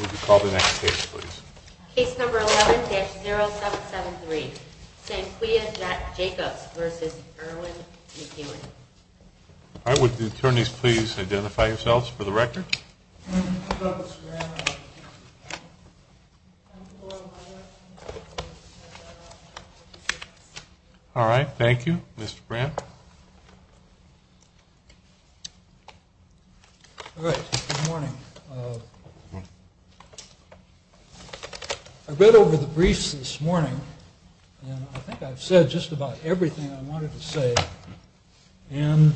Would you call the next case please? Case number 11-0773 Sanquia Jacobs v. Erwin McEwen Would the attorneys please identify yourselves for the record? Alright, thank you. Mr. Brandt? Alright, good morning. I read over the briefs this morning, and I think I've said just about everything I wanted to say. And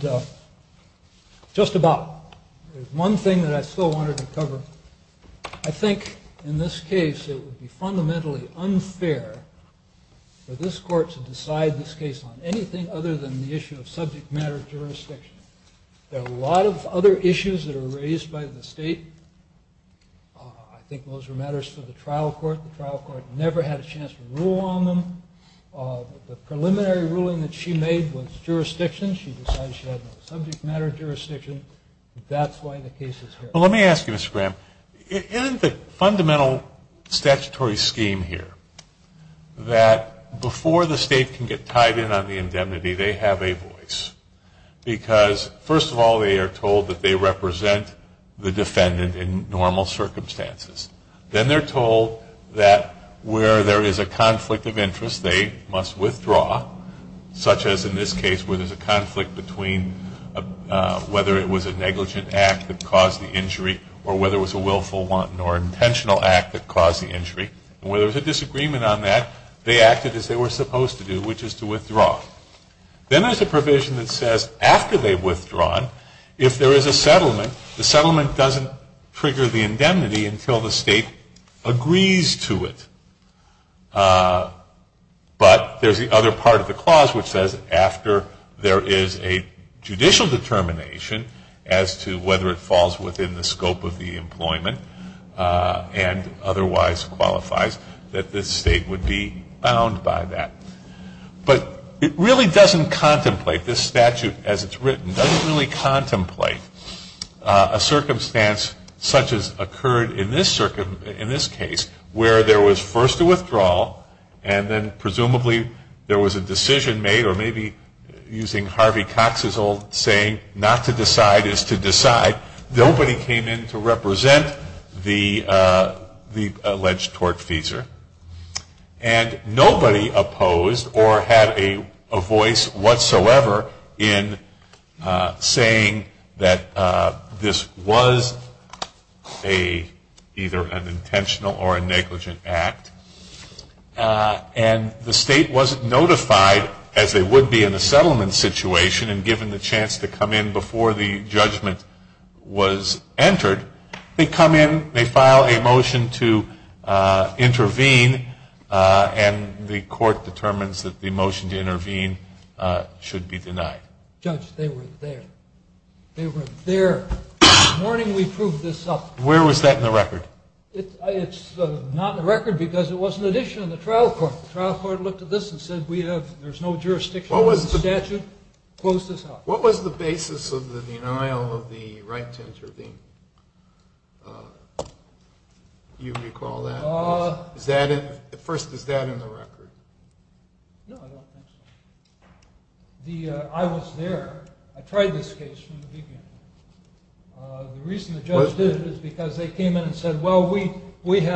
just about. There's one thing that I still wanted to cover. I think in this case it would be fundamentally unfair for this court to decide this case on anything other than the issue of subject matter jurisdiction. There are a lot of other issues that are raised by the state. I think those are matters for the trial court. The trial court never had a chance to rule on them. The preliminary ruling that she made was jurisdiction. She decided she had no subject matter jurisdiction. That's why the case is here. Well, let me ask you, Mr. Brandt. Isn't the fundamental statutory scheme here that before the state can get tied in on the indemnity, they have a voice? Because, first of all, they are told that they represent the defendant in normal circumstances. Then they're told that where there is a conflict of interest, they must withdraw, such as in this case where there's a conflict between whether it was a negligent act that caused the injury or whether it was a willful or intentional act that caused the injury. And where there's a disagreement on that, they acted as they were supposed to do, which is to withdraw. Then there's a provision that says after they've withdrawn, if there is a settlement, the settlement doesn't trigger the indemnity until the state agrees to it. But there's the other part of the clause which says after there is a judicial determination as to whether it falls within the scope of the employment and otherwise qualifies, that the state would be bound by that. But it really doesn't contemplate, this statute as it's written, doesn't really contemplate a circumstance such as occurred in this case, where there was first a withdrawal and then presumably there was a decision made or maybe using Harvey Cox's old saying, not to decide is to decide. Nobody came in to represent the alleged tortfeasor. And nobody opposed or had a voice whatsoever in saying that this was either an intentional or a negligent act. And the state wasn't notified as they would be in a settlement situation and given the chance to come in before the judgment was entered, they come in, they file a motion to intervene, and the court determines that the motion to intervene should be denied. Judge, they were there. They were there. The morning we proved this up. Where was that in the record? It's not in the record because it was an addition in the trial court. The trial court looked at this and said there's no jurisdiction on this statute. What was the basis of the denial of the right to intervene? Do you recall that? First, is that in the record? No, I don't think so. I was there. I tried this case from the beginning. The reason the judge did it is because they came in and said, well, we think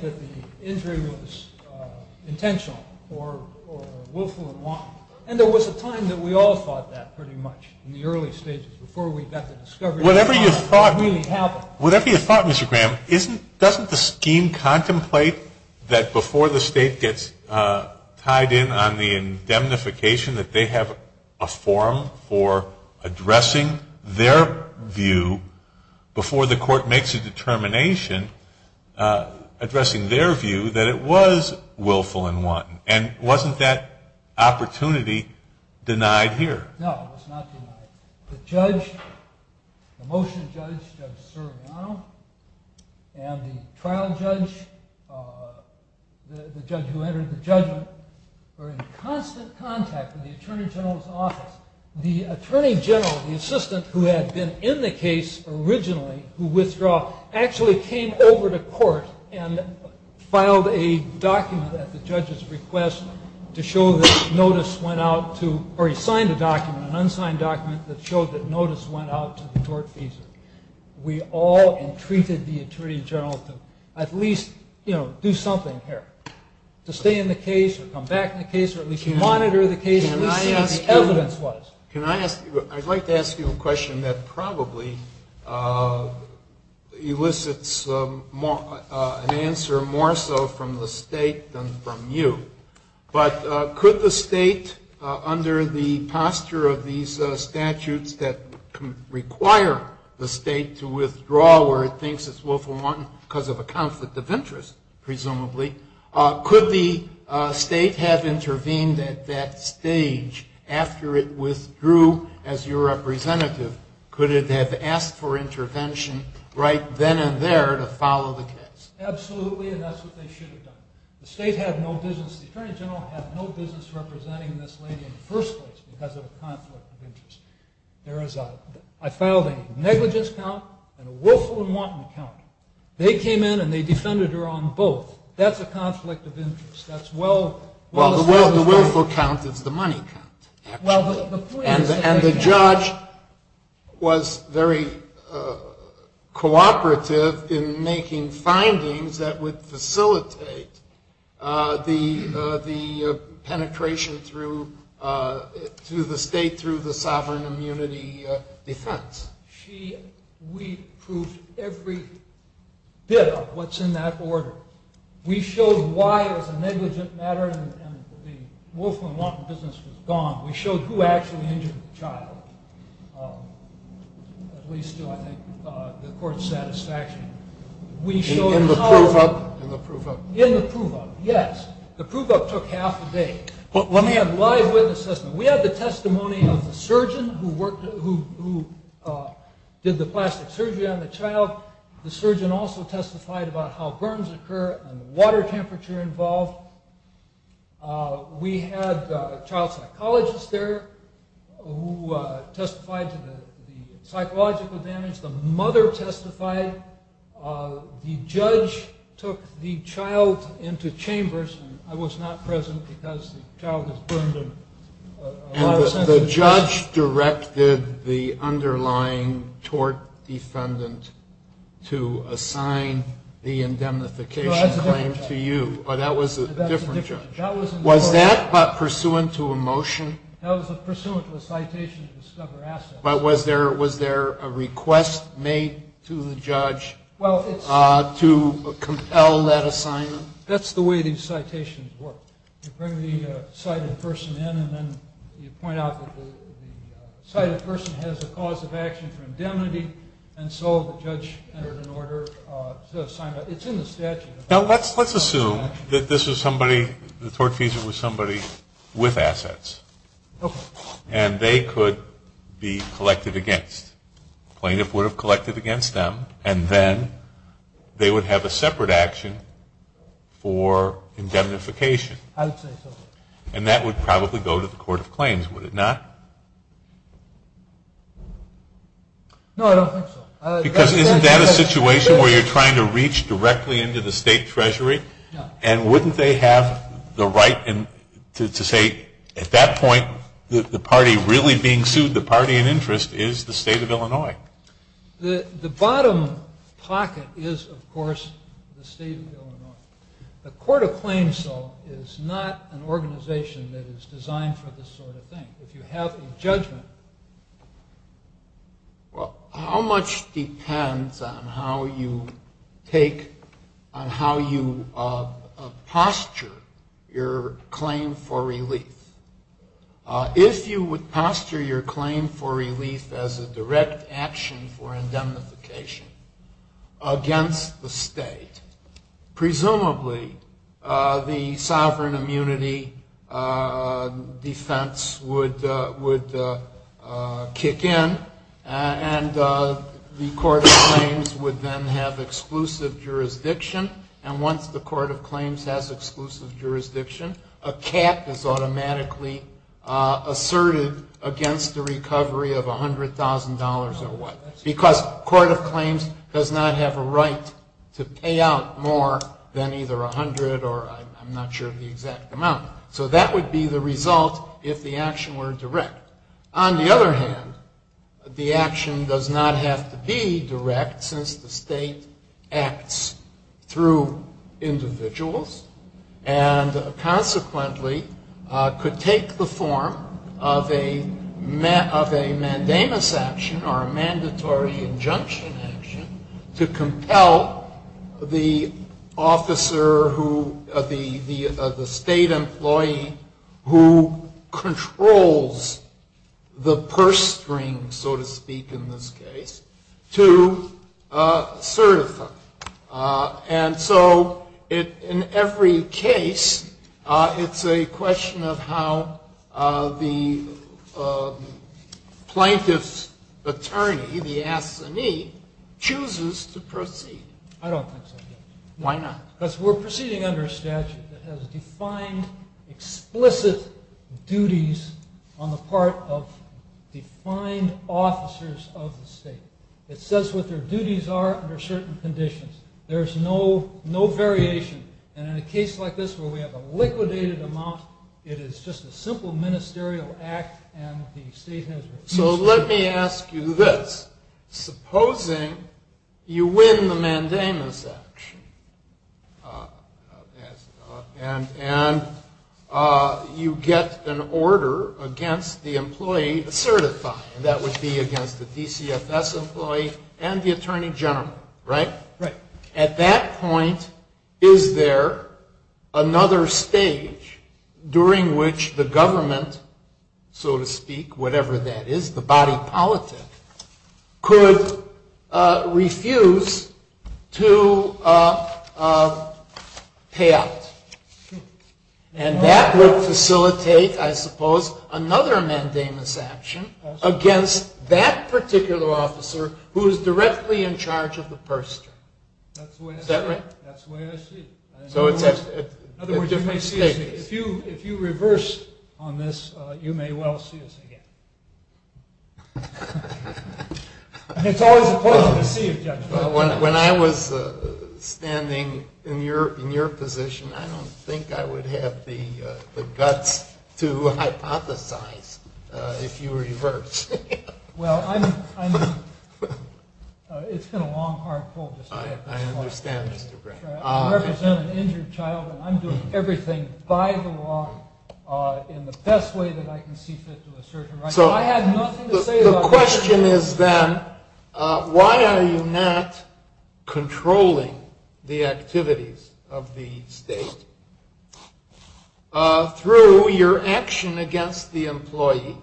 that the injury was intentional or willful and wrong. And there was a time that we all thought that pretty much in the early stages before we got the discovery that it really happened. Whatever you thought, Mr. Graham, doesn't the scheme contemplate that before the state gets tied in on the indemnification that they have a forum for addressing their view before the court makes a determination, addressing their view that it was willful and wrong? And wasn't that opportunity denied here? No, it was not denied. The judge, the motion judge, Judge Sergiano, and the trial judge, the judge who entered the judgment, were in constant contact with the Attorney General's office. The Attorney General, the assistant who had been in the case originally, who withdrew, actually came over to court and filed a document at the judge's request to show that notice went out to ‑‑ that showed that notice went out to the court fees. We all entreated the Attorney General to at least do something here, to stay in the case or come back in the case or at least to monitor the case at least evidence-wise. I'd like to ask you a question that probably elicits an answer more so from the state than from you. But could the state, under the posture of these statutes that require the state to withdraw where it thinks it's willful and wrong because of a conflict of interest, presumably, could the state have intervened at that stage after it withdrew as your representative? Could it have asked for intervention right then and there to follow the case? Absolutely, and that's what they should have done. The state had no business. The Attorney General had no business representing this lady in the first place because of a conflict of interest. I filed a negligence count and a willful and wanton count. They came in and they defended her on both. That's a conflict of interest. Well, the willful count is the money count, actually. And the judge was very cooperative in making findings that would facilitate the penetration through the state through the sovereign immunity defense. We proved every bit of what's in that order. We showed why it was a negligent matter and the willful and wanton business was gone. We showed who actually injured the child, at least to, I think, the court's satisfaction. In the prove-up? In the prove-up, yes. The prove-up took half a day. But let me have live witness testimony. We had the testimony of the surgeon who did the plastic surgery on the child. The surgeon also testified about how burns occur and the water temperature involved. We had a child psychologist there who testified to the psychological damage. The mother testified. The judge took the child into chambers. I was not present because the child was burned in a lot of senses. And the judge directed the underlying tort defendant to assign the indemnification claim to you. But that was a different judge. Was that pursuant to a motion? That was pursuant to a citation of discover assets. But was there a request made to the judge to compel that assignment? That's the way these citations work. You bring the cited person in and then you point out that the cited person has a cause of action for indemnity, and so the judge entered an order to assign that. It's in the statute. Now, let's assume that this was somebody, the tort defendant was somebody with assets. Okay. And they could be collected against. The plaintiff would have collected against them, and then they would have a separate action for indemnification. I would say so. And that would probably go to the court of claims, would it not? No, I don't think so. Because isn't that a situation where you're trying to reach directly into the state treasury? And wouldn't they have the right to say at that point the party really being sued, the party in interest, is the state of Illinois? The bottom pocket is, of course, the state of Illinois. The court of claims, though, is not an organization that is designed for this sort of thing. If you have a judgment. Well, how much depends on how you posture your claim for relief. If you would posture your claim for relief as a direct action for indemnification against the state, presumably the sovereign immunity defense would kick in, and the court of claims would then have exclusive jurisdiction. And once the court of claims has exclusive jurisdiction, a cap is automatically asserted against the recovery of $100,000 or what. Because court of claims does not have a right to pay out more than either $100,000 or I'm not sure the exact amount. So that would be the result if the action were direct. On the other hand, the action does not have to be direct since the state acts through individuals and consequently could take the form of a mandamus action or a mandatory injunction action to compel the state employee who controls the purse string, so to speak in this case, to certify. And so in every case, it's a question of how the plaintiff's attorney, the assignee, chooses to proceed. I don't think so, Judge. Why not? Because we're proceeding under a statute that has defined explicit duties on the part of defined officers of the state. It says what their duties are under certain conditions. There's no variation. And in a case like this where we have a liquidated amount, it is just a simple ministerial act and the state has rights. So let me ask you this. Supposing you win the mandamus action and you get an order against the employee certifying, and that would be against the DCFS employee and the attorney general, right? Right. At that point, is there another stage during which the government, so to speak, whatever that is, the body politic, could refuse to pay out? And that would facilitate, I suppose, another mandamus action against that particular officer who is directly in charge of the purse string. Is that right? That's the way I see it. In other words, if you reverse on this, you may well see us again. It's always a pleasure to see you, Judge. When I was standing in your position, I don't think I would have the guts to hypothesize if you reversed. Well, it's been a long, hard pull just to get this far. I understand, Mr. Gray. I represent an injured child and I'm doing everything by the law in the best way that I can see fit to the surgeon. So the question is then, why are you not controlling the activities of the state through your action against the employee?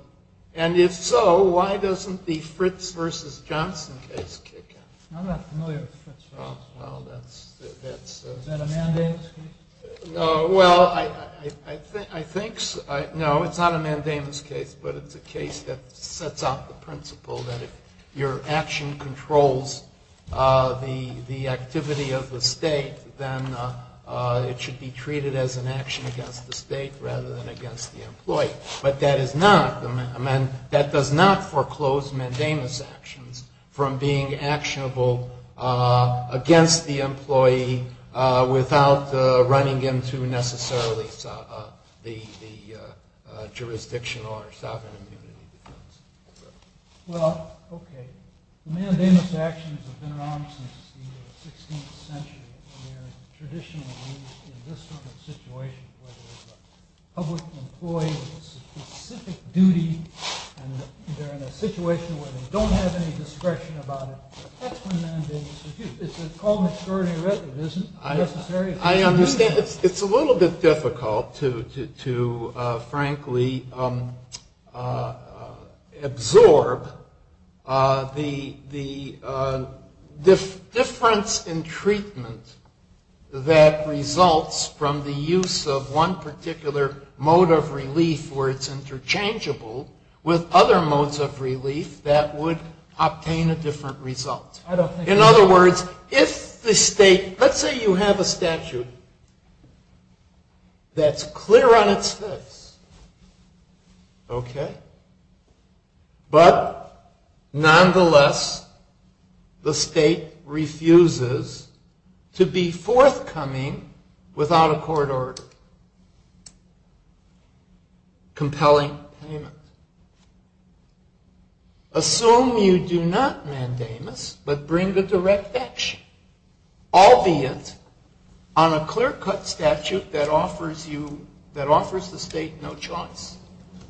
And if so, why doesn't the Fritz v. Johnson case kick in? I'm not familiar with Fritz v. Johnson. Well, that's... Is that a mandamus case? Well, I think... No, it's not a mandamus case, but it's a case that sets out the principle that if your action controls the activity of the state, then it should be treated as an action against the state rather than against the employee. But that is not... That does not foreclose mandamus actions from being actionable against the employee without the right to do so. It's not binding him to necessarily the jurisdiction or sovereign immunity. Well, okay. The mandamus actions have been around since the 16th century and they're traditionally used in this sort of situation where there's a public employee with a specific duty and they're in a situation where they don't have any discretion about it. That's when mandamus is used. It's called maternity writ. It isn't necessary. I understand. It's a little bit difficult to, frankly, absorb the difference in treatment that results from the use of one particular mode of relief where it's interchangeable with other modes of relief that would obtain a different result. In other words, if the state... Let's say you have a statute that's clear on its fifths. Okay? But, nonetheless, the state refuses to be forthcoming without a court order. Compelling payment. Assume you do not mandamus but bring a direct action, albeit on a clear-cut statute that offers the state no choice,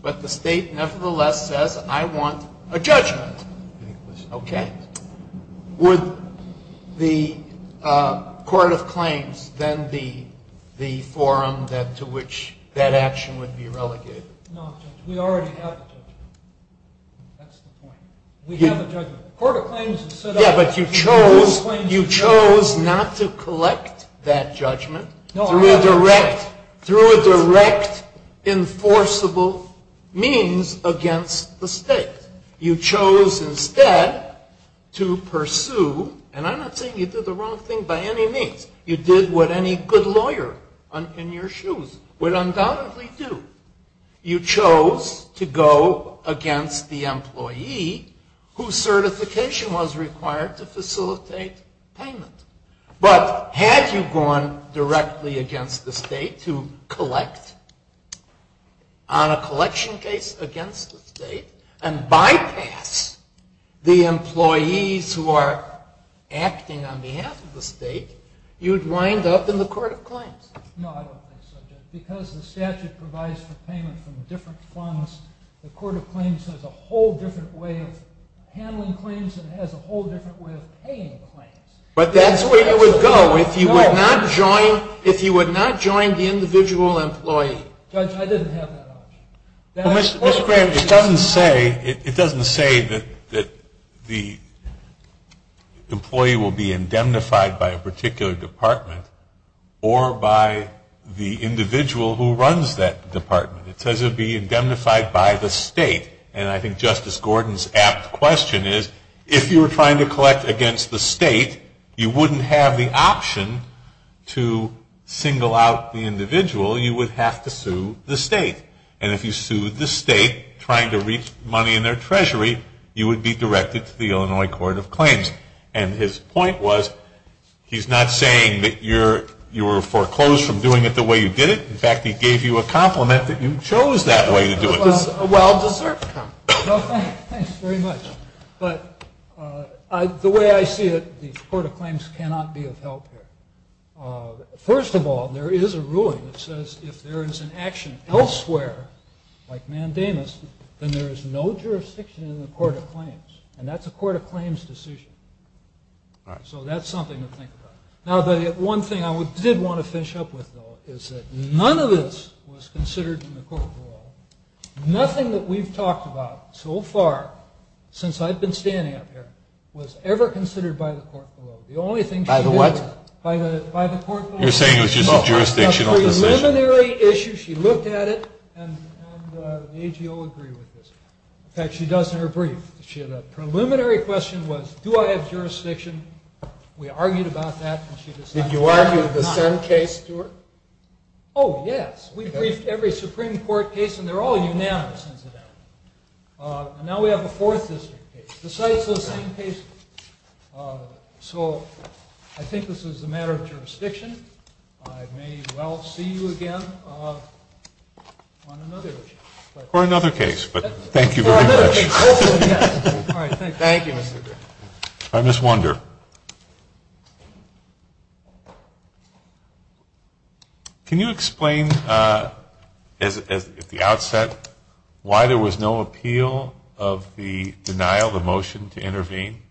but the state, nevertheless, says, I want a judgment. Okay? Would the court of claims then be the forum to which that action would be relegated? No, Judge. We already have a judgment. That's the point. We have a judgment. The court of claims would sit up... Yeah, but you chose not to collect that judgment through a direct, enforceable means against the state. You chose instead to pursue, and I'm not saying you did the wrong thing by any means. You did what any good lawyer in your shoes would undoubtedly do. You chose to go against the employee whose certification was required to facilitate payment. But had you gone directly against the state to collect on a collection case against the state and bypass the employees who are acting on behalf of the state, you'd wind up in the court of claims. No, I don't think so, Judge. Because the statute provides for payment from different funds, the court of claims has a whole different way of handling claims and has a whole different way of paying claims. But that's where you would go if you would not join the individual employee. Judge, I didn't have that option. Well, Mr. Graham, it doesn't say that the employee will be indemnified by a particular department or by the individual employee. It says it will be indemnified by the state. And I think Justice Gordon's apt question is, if you were trying to collect against the state, you wouldn't have the option to single out the individual. You would have to sue the state. And if you sued the state trying to reach money in their treasury, you would be directed to the Illinois Court of Claims. And his point was, he's not saying that you were foreclosed from doing it the way you did it. In fact, he gave you a compliment that you chose that way to do it. A well-deserved compliment. Thanks very much. But the way I see it, the court of claims cannot be of help here. First of all, there is a ruling that says if there is an action elsewhere, like Mandamus, then there is no jurisdiction in the court of claims. And that's a court of claims decision. So that's something to think about. Now, the one thing I did want to finish up with, though, is that none of this was considered in the court of law. Nothing that we've talked about so far, since I've been standing up here, was ever considered by the court of law. By the what? By the court of law. You're saying it was just a jurisdictional decision? No, a preliminary issue. She looked at it. And the AGO agreed with this. In fact, she does in her brief. The preliminary question was, do I have jurisdiction? We argued about that. Did you argue the same case, Stuart? Oh, yes. We briefed every Supreme Court case. And they're all unanimous, incidentally. And now we have a Fourth District case. Besides those same cases. So I think this is a matter of jurisdiction. I may well see you again on another issue. Or another case. But thank you very much. Or another case. Hopefully, yes. All right. Thank you. Thank you, Mr. Griffith. I just wonder. Can you explain, at the outset, why there was no appeal of the denial of the motion to intervene?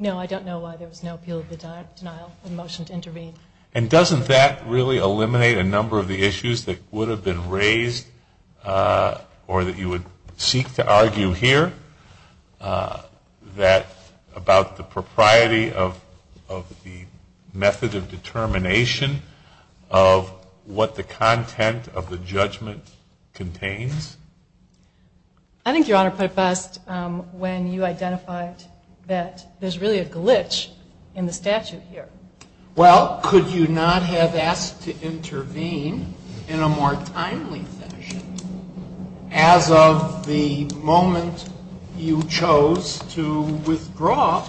No, I don't know why there was no appeal of the denial of the motion to intervene. And doesn't that really eliminate a number of the issues that would have been raised or that you would seek to argue here? That about the propriety of the method of determination of what the content of the judgment contains? I think Your Honor put it best when you identified that there's really a glitch in the statute here. Well, could you not have asked to intervene in a more timely fashion as of the moment you chose to withdraw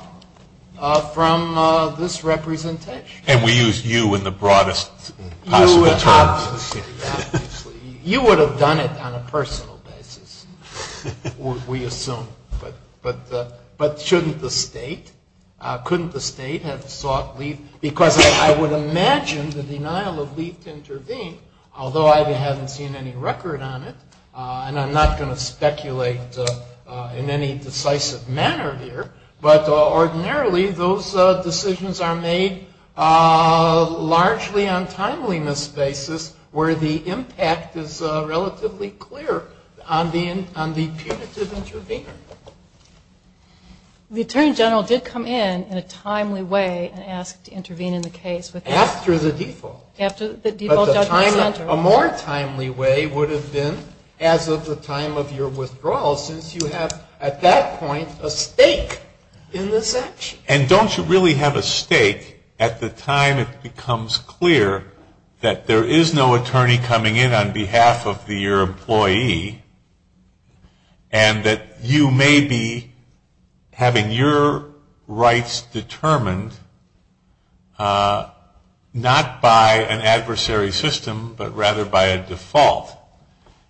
from this representation? And we used you in the broadest possible terms. You would have done it on a personal basis, we assume. But shouldn't the State? Couldn't the State have sought leave? Because I would imagine the denial of leave to intervene, although I haven't seen any record on it, and I'm not going to speculate in any decisive manner here, but ordinarily those decisions are made largely on timeliness basis where the impact is relatively clear on the punitive intervener. The Attorney General did come in in a timely way and ask to intervene in the case. After the default. After the default judgment. A more timely way would have been as of the time of your withdrawal since you have at that point a stake in this action. And don't you really have a stake at the time it becomes clear that there is no attorney coming in on behalf of your employee and that you may be having your rights determined not by an adversary system but rather by a default?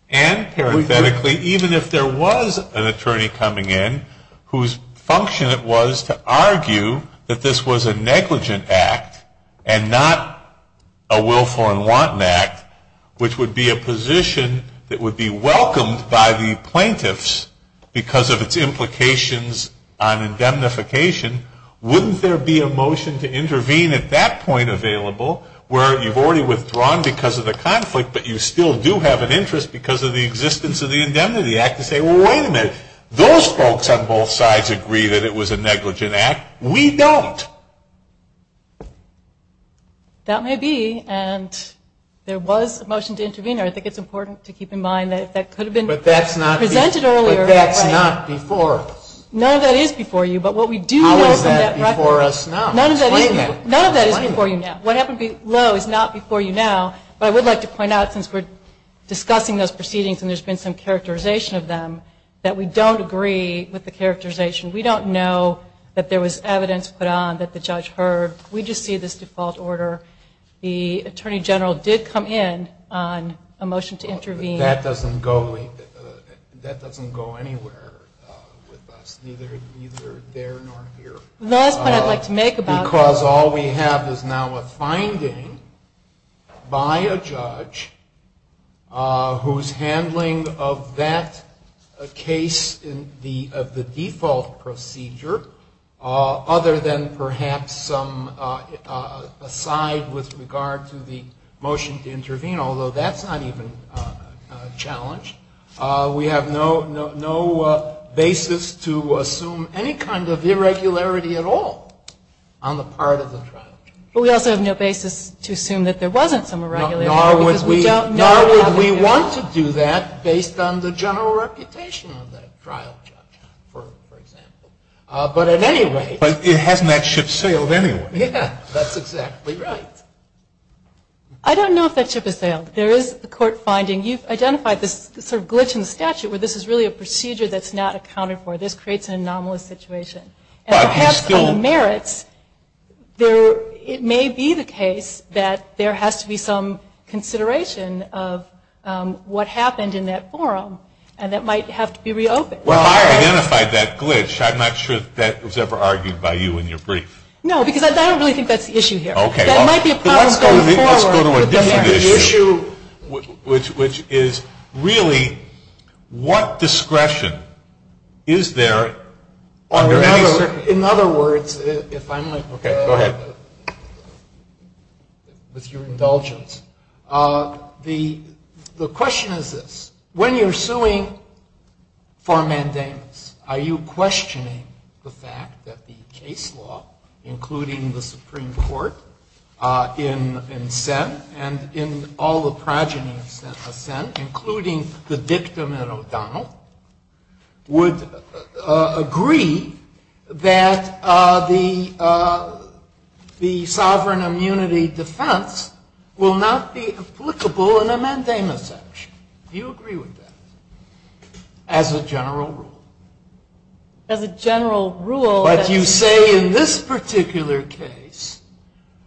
And parenthetically even if there was an attorney coming in whose function it was to argue that this was a negligent act and not a willful and wanton act, which would be a position that would be welcomed by the plaintiffs because of its implications on indemnification, wouldn't there be a motion to intervene at that point available where you've already withdrawn because of the conflict but you still do have an interest because of the existence of the Indemnity Act to say, wait a minute, those folks on both sides agree that it was a negligent act. We don't. That may be. And there was a motion to intervene. I think it's important to keep in mind that that could have been presented earlier. But that's not before us. None of that is before you. But what we do know from that record. How is that before us now? None of that is before you now. What happened below is not before you now. But I would like to point out since we're discussing those proceedings and there's been some characterization of them, that we don't agree with the characterization. We don't know that there was evidence put on that the judge heard. We just see this default order. The Attorney General did come in on a motion to intervene. That doesn't go anywhere with us. Neither there nor here. The last point I'd like to make about that. Because all we have is now a finding by a judge whose handling of that case of the default procedure, other than perhaps some aside with regard to the motion to intervene, although that's not even a challenge. We have no basis to assume any kind of irregularity at all on the part of the trial judge. But we also have no basis to assume that there wasn't some irregularity. Nor would we want to do that based on the general reputation of that trial judge, for example. But at any rate. But hasn't that ship sailed anyway? Yeah, that's exactly right. I don't know if that ship has sailed. There is a court finding. You've identified this sort of glitch in the statute where this is really a procedure that's not accounted for. This creates an anomalous situation. And perhaps on the merits, it may be the case that there has to be some consideration of what happened in that forum. And that might have to be reopened. Well, I identified that glitch. I'm not sure that was ever argued by you in your brief. No, because I don't really think that's the issue here. That might be a problem going forward. Let's go to a different issue, which is really what discretion is there under any circumstance? In other words, if I might. Okay, go ahead. With your indulgence. The question is this. Are you questioning the fact that the case law, including the Supreme Court in Senn and in all the progeny of Senn, including the dictum in O'Donnell, would agree that the sovereign immunity defense will not be applicable in a mandamus action? Do you agree with that as a general rule? As a general rule. But you say in this particular case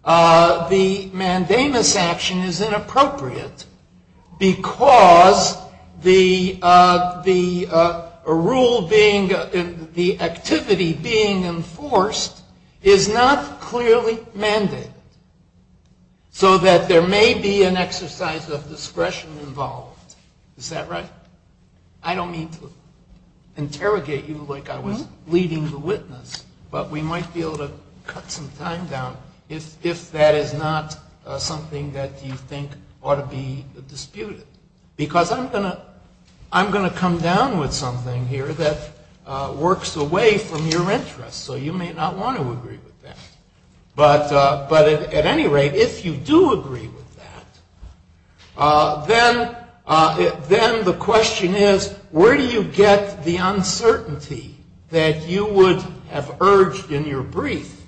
the mandamus action is inappropriate because the activity being enforced is not clearly mandated so that there may be an exercise of discretion involved. Is that right? I don't mean to interrogate you like I was leading the witness, but we might be able to cut some time down if that is not something that you think ought to be disputed. Because I'm going to come down with something here that works away from your interest, so you may not want to agree with that. But at any rate, if you do agree with that, then the question is, where do you get the uncertainty that you would have urged in your brief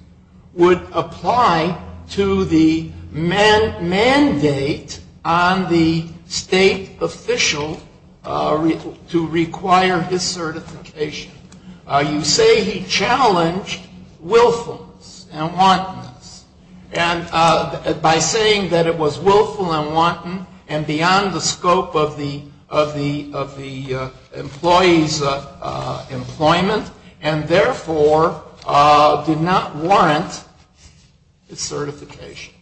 would apply to the mandate on the state official to require his certification? You say he challenged willfulness and wantonness. And by saying that it was willful and wanton and beyond the scope of the employee's employment and therefore did not want his certification.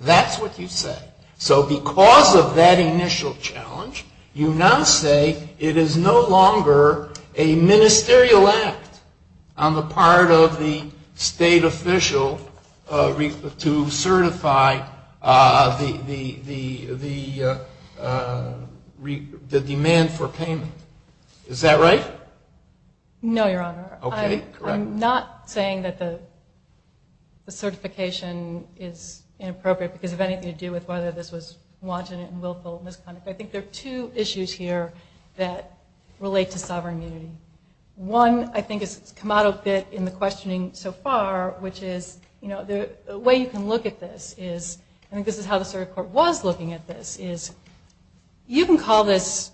That's what you said. So because of that initial challenge, you now say it is no longer a ministerial act on the part of the state official to certify the demand for payment. Is that right? No, Your Honor. Okay, correct. I'm not saying that the certification is inappropriate because of anything to do with whether this was wanton and willful misconduct. I think there are two issues here that relate to sovereign immunity. One, I think, has come out a bit in the questioning so far, which is the way you can look at this is, and I think this is how the circuit court was looking at this, is you can call this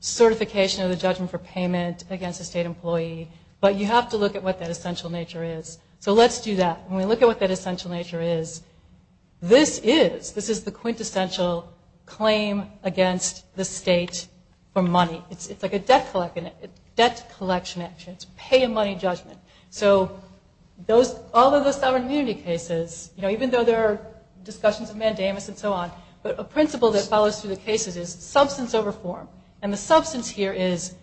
certification of the judgment for payment against a state employee, but you have to look at what that essential nature is. So let's do that. When we look at what that essential nature is, this is the quintessential claim against the state for money. It's like a debt collection action. It's pay and money judgment. So all of the sovereign immunity cases, even though there are discussions of mandamus and so on, but a principle that follows through the cases is substance over form. And the substance here is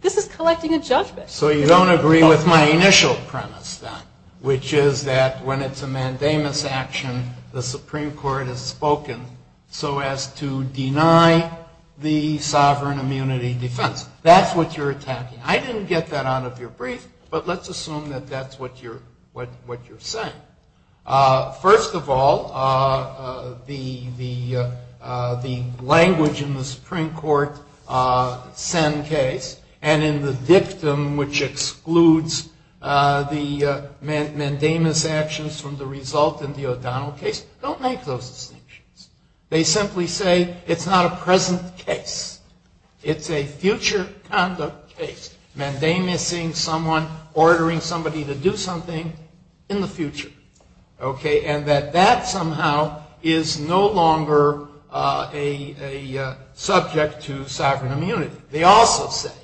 this is collecting a judgment. So you don't agree with my initial premise then, which is that when it's a mandamus action, the Supreme Court has spoken so as to deny the sovereign immunity defense. That's what you're attacking. I didn't get that out of your brief, but let's assume that that's what you're saying. First of all, the language in the Supreme Court Senn case and in the dictum which excludes the mandamus actions from the result in the O'Donnell case don't make those distinctions. They simply say it's not a present case. It's a future conduct case. Mandamus-ing someone, ordering somebody to do something in the future. Okay? And that that somehow is no longer a subject to sovereign immunity. They also say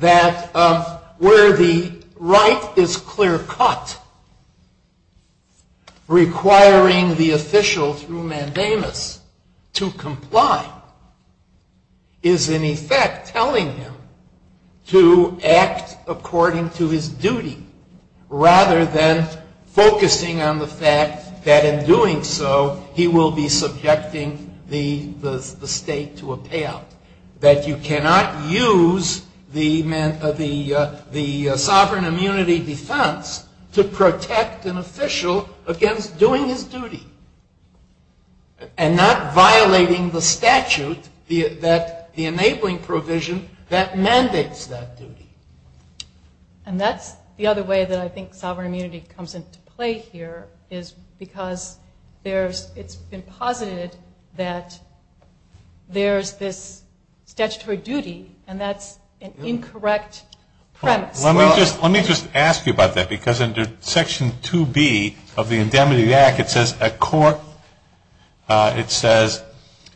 that where the right is clear-cut, requiring the official through mandamus to comply, is in effect telling him to act according to his duty, rather than focusing on the fact that in doing so, he will be subjecting the state to a payout. That you cannot use the sovereign immunity defense to protect an official against doing his duty and not violating the statute, the enabling provision that mandates that duty. And that's the other way that I think sovereign immunity comes into play here, is because it's been posited that there's this statutory duty, and that's an incorrect premise. Let me just ask you about that, because under Section 2B of the Indemnity Act, it says,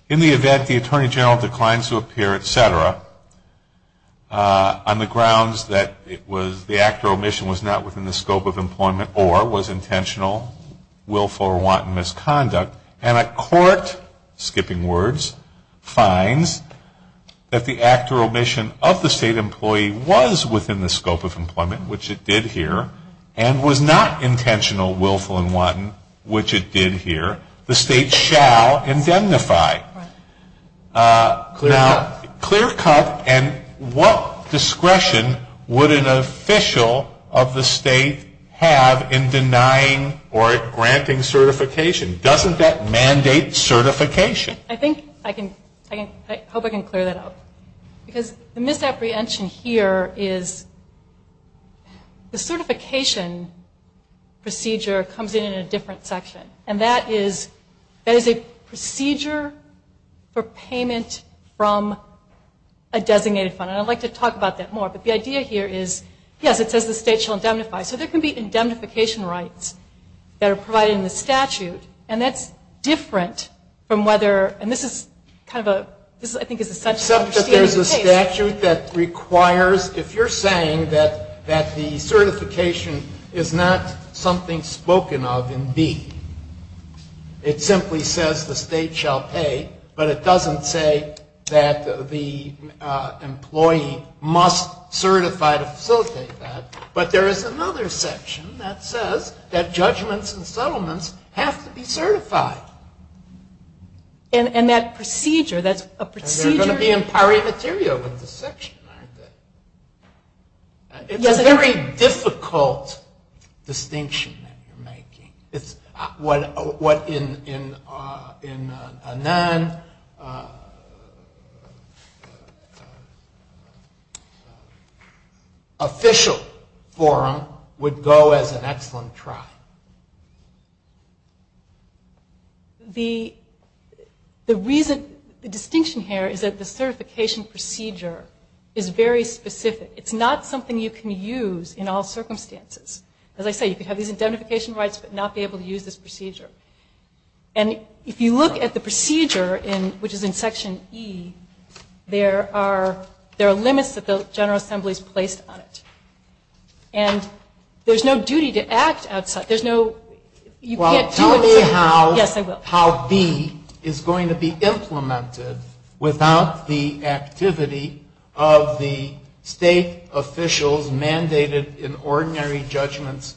in the event the Attorney General declines to appear, et cetera, on the grounds that the act or omission was not within the scope of employment, or was intentional, willful, or wanton misconduct, and a court, skipping words, finds that the act or omission of the state employee was within the scope of employment, which it did here, and was not intentional, willful, and wanton, which it did here, the state shall indemnify. Now, clear cut, and what discretion would an official of the state have in denying or granting certification? Doesn't that mandate certification? I think I can, I hope I can clear that up. Because the misapprehension here is the certification procedure comes in in a different section, and that is a procedure for payment from a designated fund. And I'd like to talk about that more, but the idea here is, yes, it says the state shall indemnify. So there can be indemnification rights that are provided in the statute, and that's different from whether, and this is kind of a, this, I think, is such an understated case. Except that there's a statute that requires, if you're saying that the certification is not something spoken of in D, it simply says the state shall pay, but it doesn't say that the employee must certify to facilitate that. But there is another section that says that judgments and settlements have to be certified. And that procedure, that's a procedure. And they're going to be in pari materia with this section, aren't they? It's a very difficult distinction that you're making. It's what in a non-official forum would go as an excellent try. The reason, the distinction here is that the certification procedure is very specific. It's not something you can use in all circumstances. As I say, you could have these indemnification rights but not be able to use this procedure. And if you look at the procedure, which is in Section E, there are limits that the General Assembly's placed on it. And there's no duty to act outside. There's no, you can't do it. Well, tell me how B is going to be implemented without the activity of the state officials mandated in ordinary judgments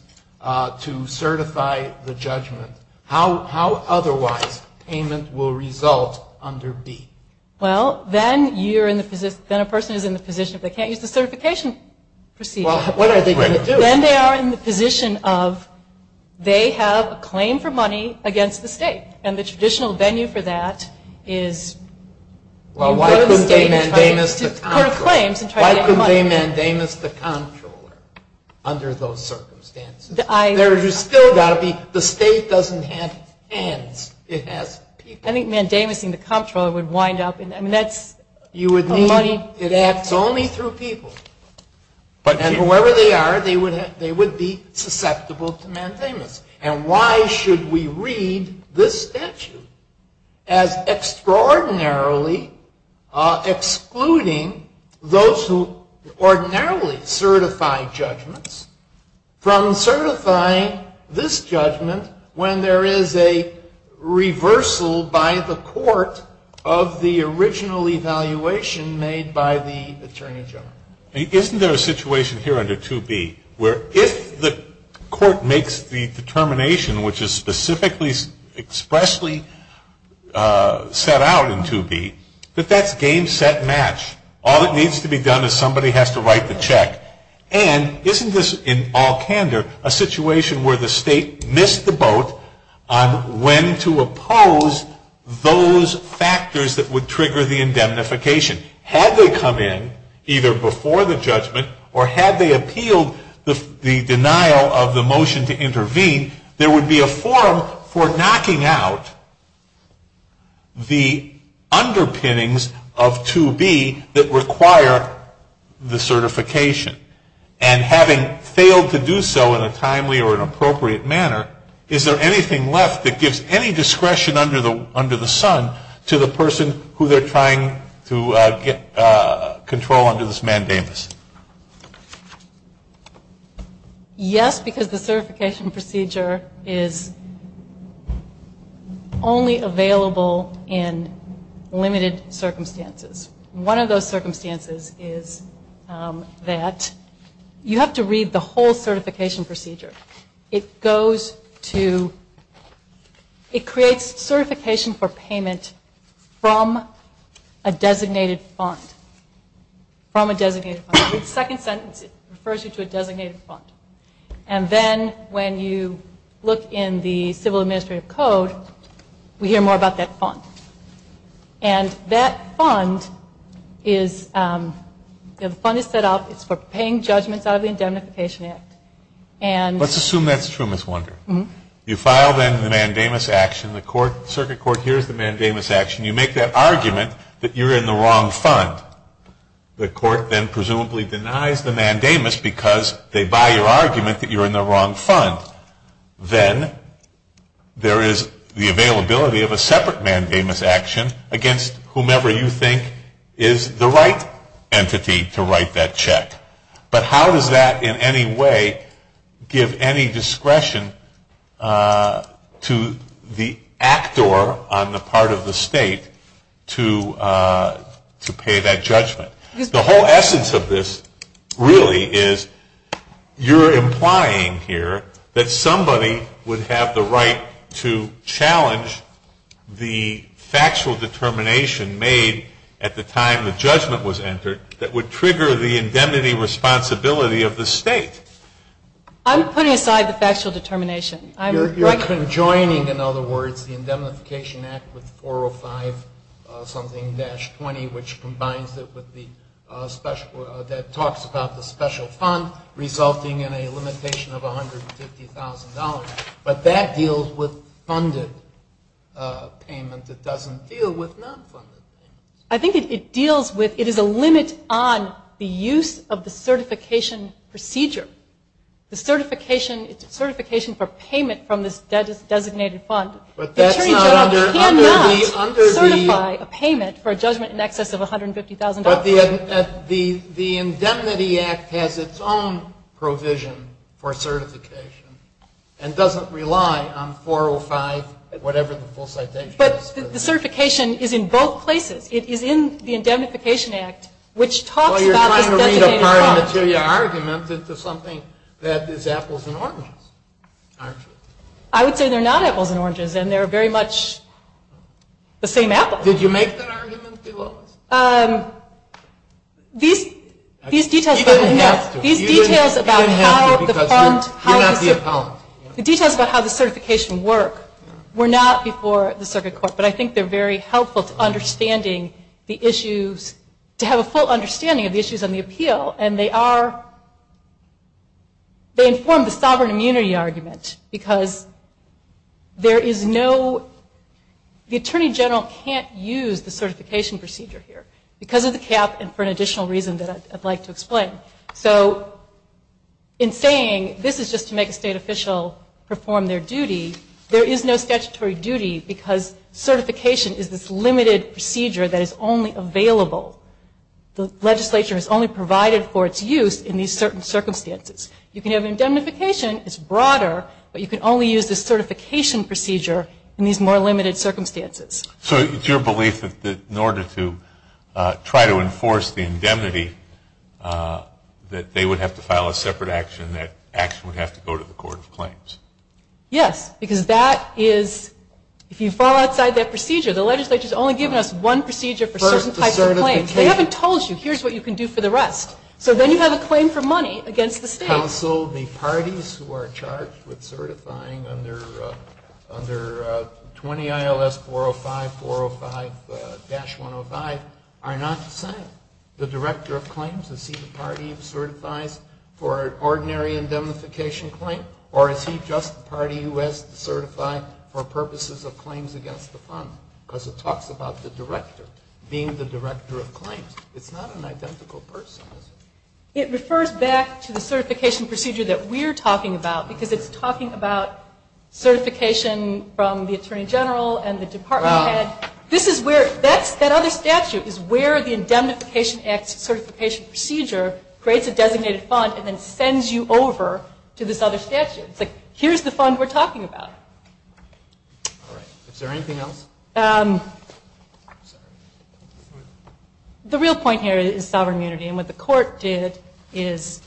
to certify the judgment. How otherwise payment will result under B? Well, then you're in the position, then a person is in the position, they can't use the certification procedure. Well, what are they going to do? Then they are in the position of they have a claim for money against the state. And the traditional venue for that is in front of the state. Well, why couldn't they mandamus the comptroller? Under those circumstances. There's still got to be, the state doesn't have hands, it has people. I think mandamus-ing the comptroller would wind up in, I mean, that's money. You would mean it acts only through people. And whoever they are, they would be susceptible to mandamus. And why should we read this statute as extraordinarily excluding those who ordinarily certify judgments from certifying this judgment when there is a reversal by the court of the original evaluation made by the attorney general? Isn't there a situation here under 2B where if the court makes the determination, which is specifically expressly set out in 2B, that that's game, set, match. All that needs to be done is somebody has to write the check. And isn't this, in all candor, a situation where the state missed the boat on when to oppose those factors that would trigger the indemnification? Had they come in, either before the judgment or had they appealed the denial of the motion to intervene, there would be a forum for knocking out the underpinnings of 2B that require the certification. And having failed to do so in a timely or an appropriate manner, is there anything left that gives any discretion under the sun to the person who they're trying to control under this mandamus? Yes, because the certification procedure is only available in limited circumstances. One of those circumstances is that you have to read the whole certification procedure. It goes to, it creates certification for payment from a designated fund. From a designated fund. The second sentence refers you to a designated fund. And then when you look in the Civil Administrative Code, we hear more about that fund. And that fund is, the fund is set up, it's for paying judgments out of the Indemnification Act. Let's assume that's true, Ms. Wonder. You file then the mandamus action. The circuit court hears the mandamus action. You make that argument that you're in the wrong fund. The court then presumably denies the mandamus because they buy your argument that you're in the wrong fund. Then there is the availability of a separate mandamus action against whomever you think is the right entity to write that check. But how does that in any way give any discretion to the actor on the part of the state to pay that judgment? The whole essence of this really is you're implying here that somebody would have the right to challenge the factual determination made at the time the judgment was entered that would trigger the indemnity responsibility of the state. I'm putting aside the factual determination. You're conjoining, in other words, the Indemnification Act with 405-something-20, which combines it with the special, that talks about the special fund resulting in a limitation of $150,000. But that deals with funded payment. It doesn't deal with non-funded payment. I think it deals with, it is a limit on the use of the certification procedure. The certification, it's a certification for payment from this designated fund. Attorney General cannot certify a payment for a judgment in excess of $150,000. But the Indemnity Act has its own provision for certification and doesn't rely on 405, whatever the full citation is. The certification is in both places. It is in the Indemnification Act, which talks about this designated fund. Well, you're trying to read apart a material argument into something that is apples and oranges, aren't you? I would say they're not apples and oranges, and they're very much the same apple. Did you make that argument, Delores? These details about how the fund, the details about how the certification worked were not before the Circuit Court. But I think they're very helpful to understanding the issues, to have a full understanding of the issues on the appeal, and they are, they inform the sovereign immunity argument because there is no, the Attorney General can't use the certification procedure here because of the cap and for an additional reason that I'd like to explain. So in saying this is just to make a state official perform their duty, there is no statutory duty because certification is this limited procedure that is only available. The legislature is only provided for its use in these certain circumstances. You can have an indemnification, it's broader, but you can only use the certification procedure in these more limited circumstances. So it's your belief that in order to try to enforce the indemnity, that they would have to file a separate action, that action would have to go to the Court of Claims? Yes, because that is, if you file outside that procedure, the legislature has only given us one procedure for certain types of claims. They haven't told you, here's what you can do for the rest. So then you have a claim for money against the state. Counsel, the parties who are charged with certifying under 20 ILS 405, 405-105, are not the same. The Director of Claims, is he the party who certifies for an ordinary indemnification claim, or is he just the party who has to certify for purposes of claims against the fund? Because it talks about the Director being the Director of Claims. It's not an identical person, is it? It refers back to the certification procedure that we're talking about because it's talking about certification from the Attorney General and the department head. This is where, that other statute is where the Indemnification Act certification procedure creates a designated fund and then sends you over to this other statute. It's like, here's the fund we're talking about. All right, is there anything else? The real point here is sovereign immunity, and what the court did is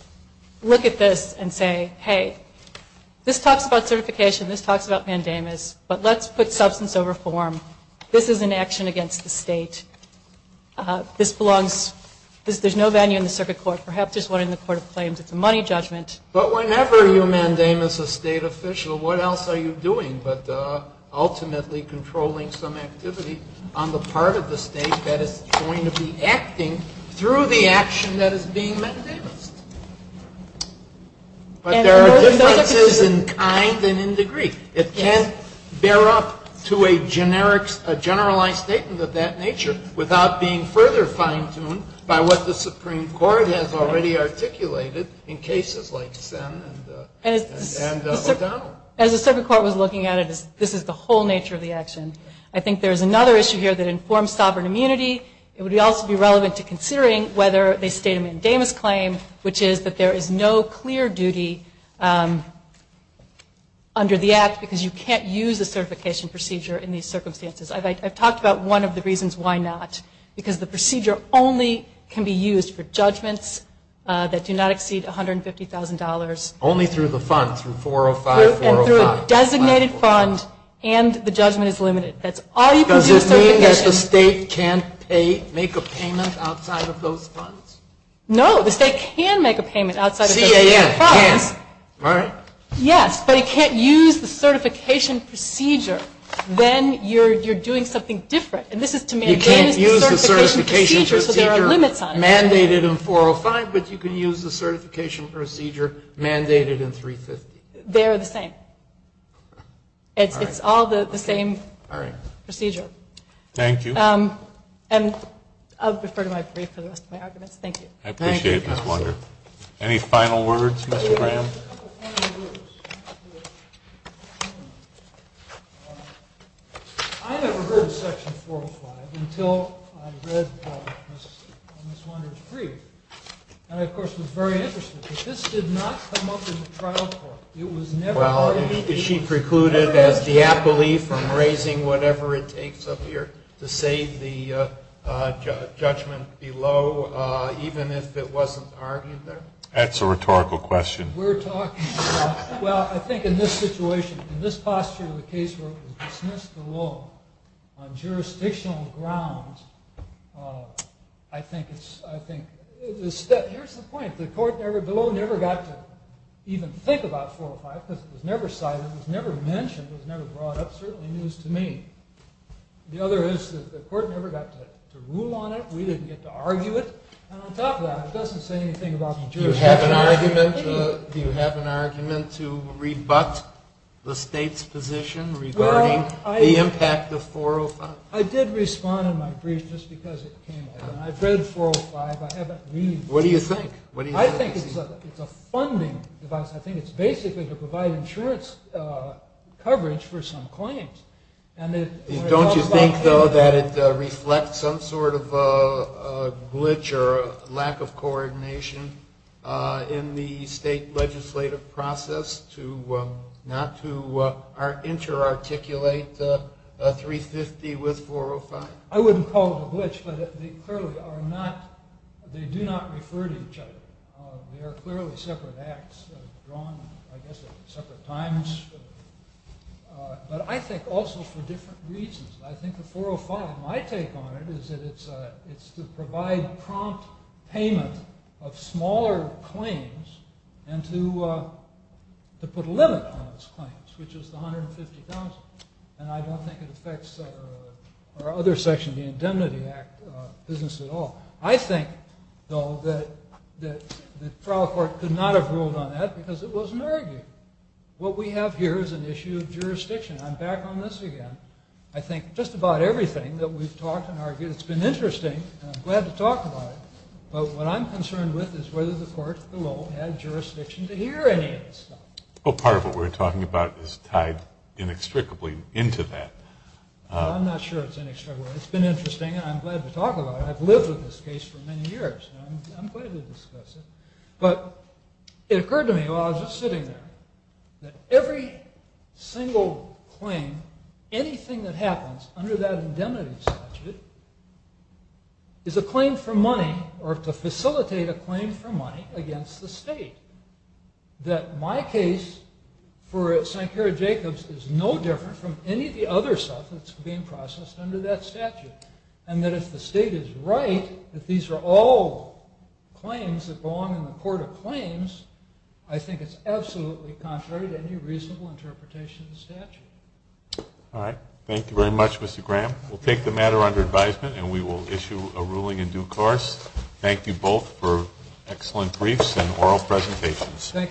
look at this and say, hey, this talks about certification, this talks about mandamus, but let's put substance over form. This is an action against the state. This belongs, there's no value in the circuit court. Perhaps there's one in the Court of Claims. It's a money judgment. But whenever you mandamus a state official, what else are you doing but ultimately controlling some activity on the part of the state that is going to be acting through the action that is being mandamused? But there are differences in kind and in degree. It can't bear up to a generalized statement of that nature without being further fine-tuned by what the Supreme Court has already articulated in cases like Sen and O'Donnell. As the circuit court was looking at it, this is the whole nature of the action. I think there's another issue here that informs sovereign immunity. It would also be relevant to considering whether they state a mandamus claim, which is that there is no clear duty under the Act because you can't use a certification procedure in these circumstances. I've talked about one of the reasons why not, because the procedure only can be used for judgments that do not exceed $150,000. Only through the funds, through 405, 405. And through a designated fund, and the judgment is limited. That's all you can do with certification. No, the state can make a payment outside of certain funds. CAF can, right? Yes, but it can't use the certification procedure. Then you're doing something different. And this is to mandamuse the certification procedure so there are limits on it. You can't use the certification procedure mandated in 405, but you can use the certification procedure mandated in 350. They are the same. It's all the same procedure. Thank you. And I'll defer to my brief for the rest of my arguments. Thank you. I appreciate it, Ms. Wander. Any final words, Mr. Graham? I have a couple final words. I never heard of Section 405 until I read Ms. Wander's brief. And I, of course, was very interested. It was never heard of. Well, is she precluded, as the appellee, from raising whatever it takes up here to save the judgment below, even if it wasn't argued there? That's a rhetorical question. We're talking about, well, I think in this situation, in this posture of the case where it was dismissed the law on jurisdictional grounds, I think it's a step. Here's the point. The court below never got to even think about 405 because it was never cited. It was never mentioned. It was never brought up. Certainly news to me. The other is that the court never got to rule on it. We didn't get to argue it. And on top of that, it doesn't say anything about the jurisdiction. Do you have an argument to rebut the state's position regarding the impact of 405? I did respond in my brief just because it came up. I've read 405. I haven't read it. What do you think? I think it's a funding device. I think it's basically to provide insurance coverage for some claims. Don't you think, though, that it reflects some sort of a glitch or lack of coordination in the state legislative process not to interarticulate 350 with 405? I wouldn't call it a glitch, but they do not refer to each other. They are clearly separate acts drawn, I guess, at separate times. But I think also for different reasons. I think the 405, my take on it, is that it's to provide prompt payment of smaller claims and to put a limit on those claims, which is the $150,000. And I don't think it affects our other section of the Indemnity Act business at all. I think, though, that the trial court could not have ruled on that because it wasn't argued. What we have here is an issue of jurisdiction. I'm back on this again. I think just about everything that we've talked and argued, it's been interesting, and I'm glad to talk about it. But what I'm concerned with is whether the court below had jurisdiction to hear any of this stuff. Part of what we're talking about is tied inextricably into that. I'm not sure it's inextricable. It's been interesting, and I'm glad to talk about it. I've lived with this case for many years, and I'm glad to discuss it. But it occurred to me while I was just sitting there that every single claim, anything that happens under that indemnity statute, is a claim for money or to facilitate a claim for money against the state. That my case for Sankara-Jacobs is no different from any of the other stuff that's being processed under that statute. And that if the state is right that these are all claims that belong in the court of claims, I think it's absolutely contrary to any reasonable interpretation of the statute. All right. Thank you very much, Mr. Graham. We'll take the matter under advisement, and we will issue a ruling in due course. Thank you both for excellent briefs and oral presentations. Thank you.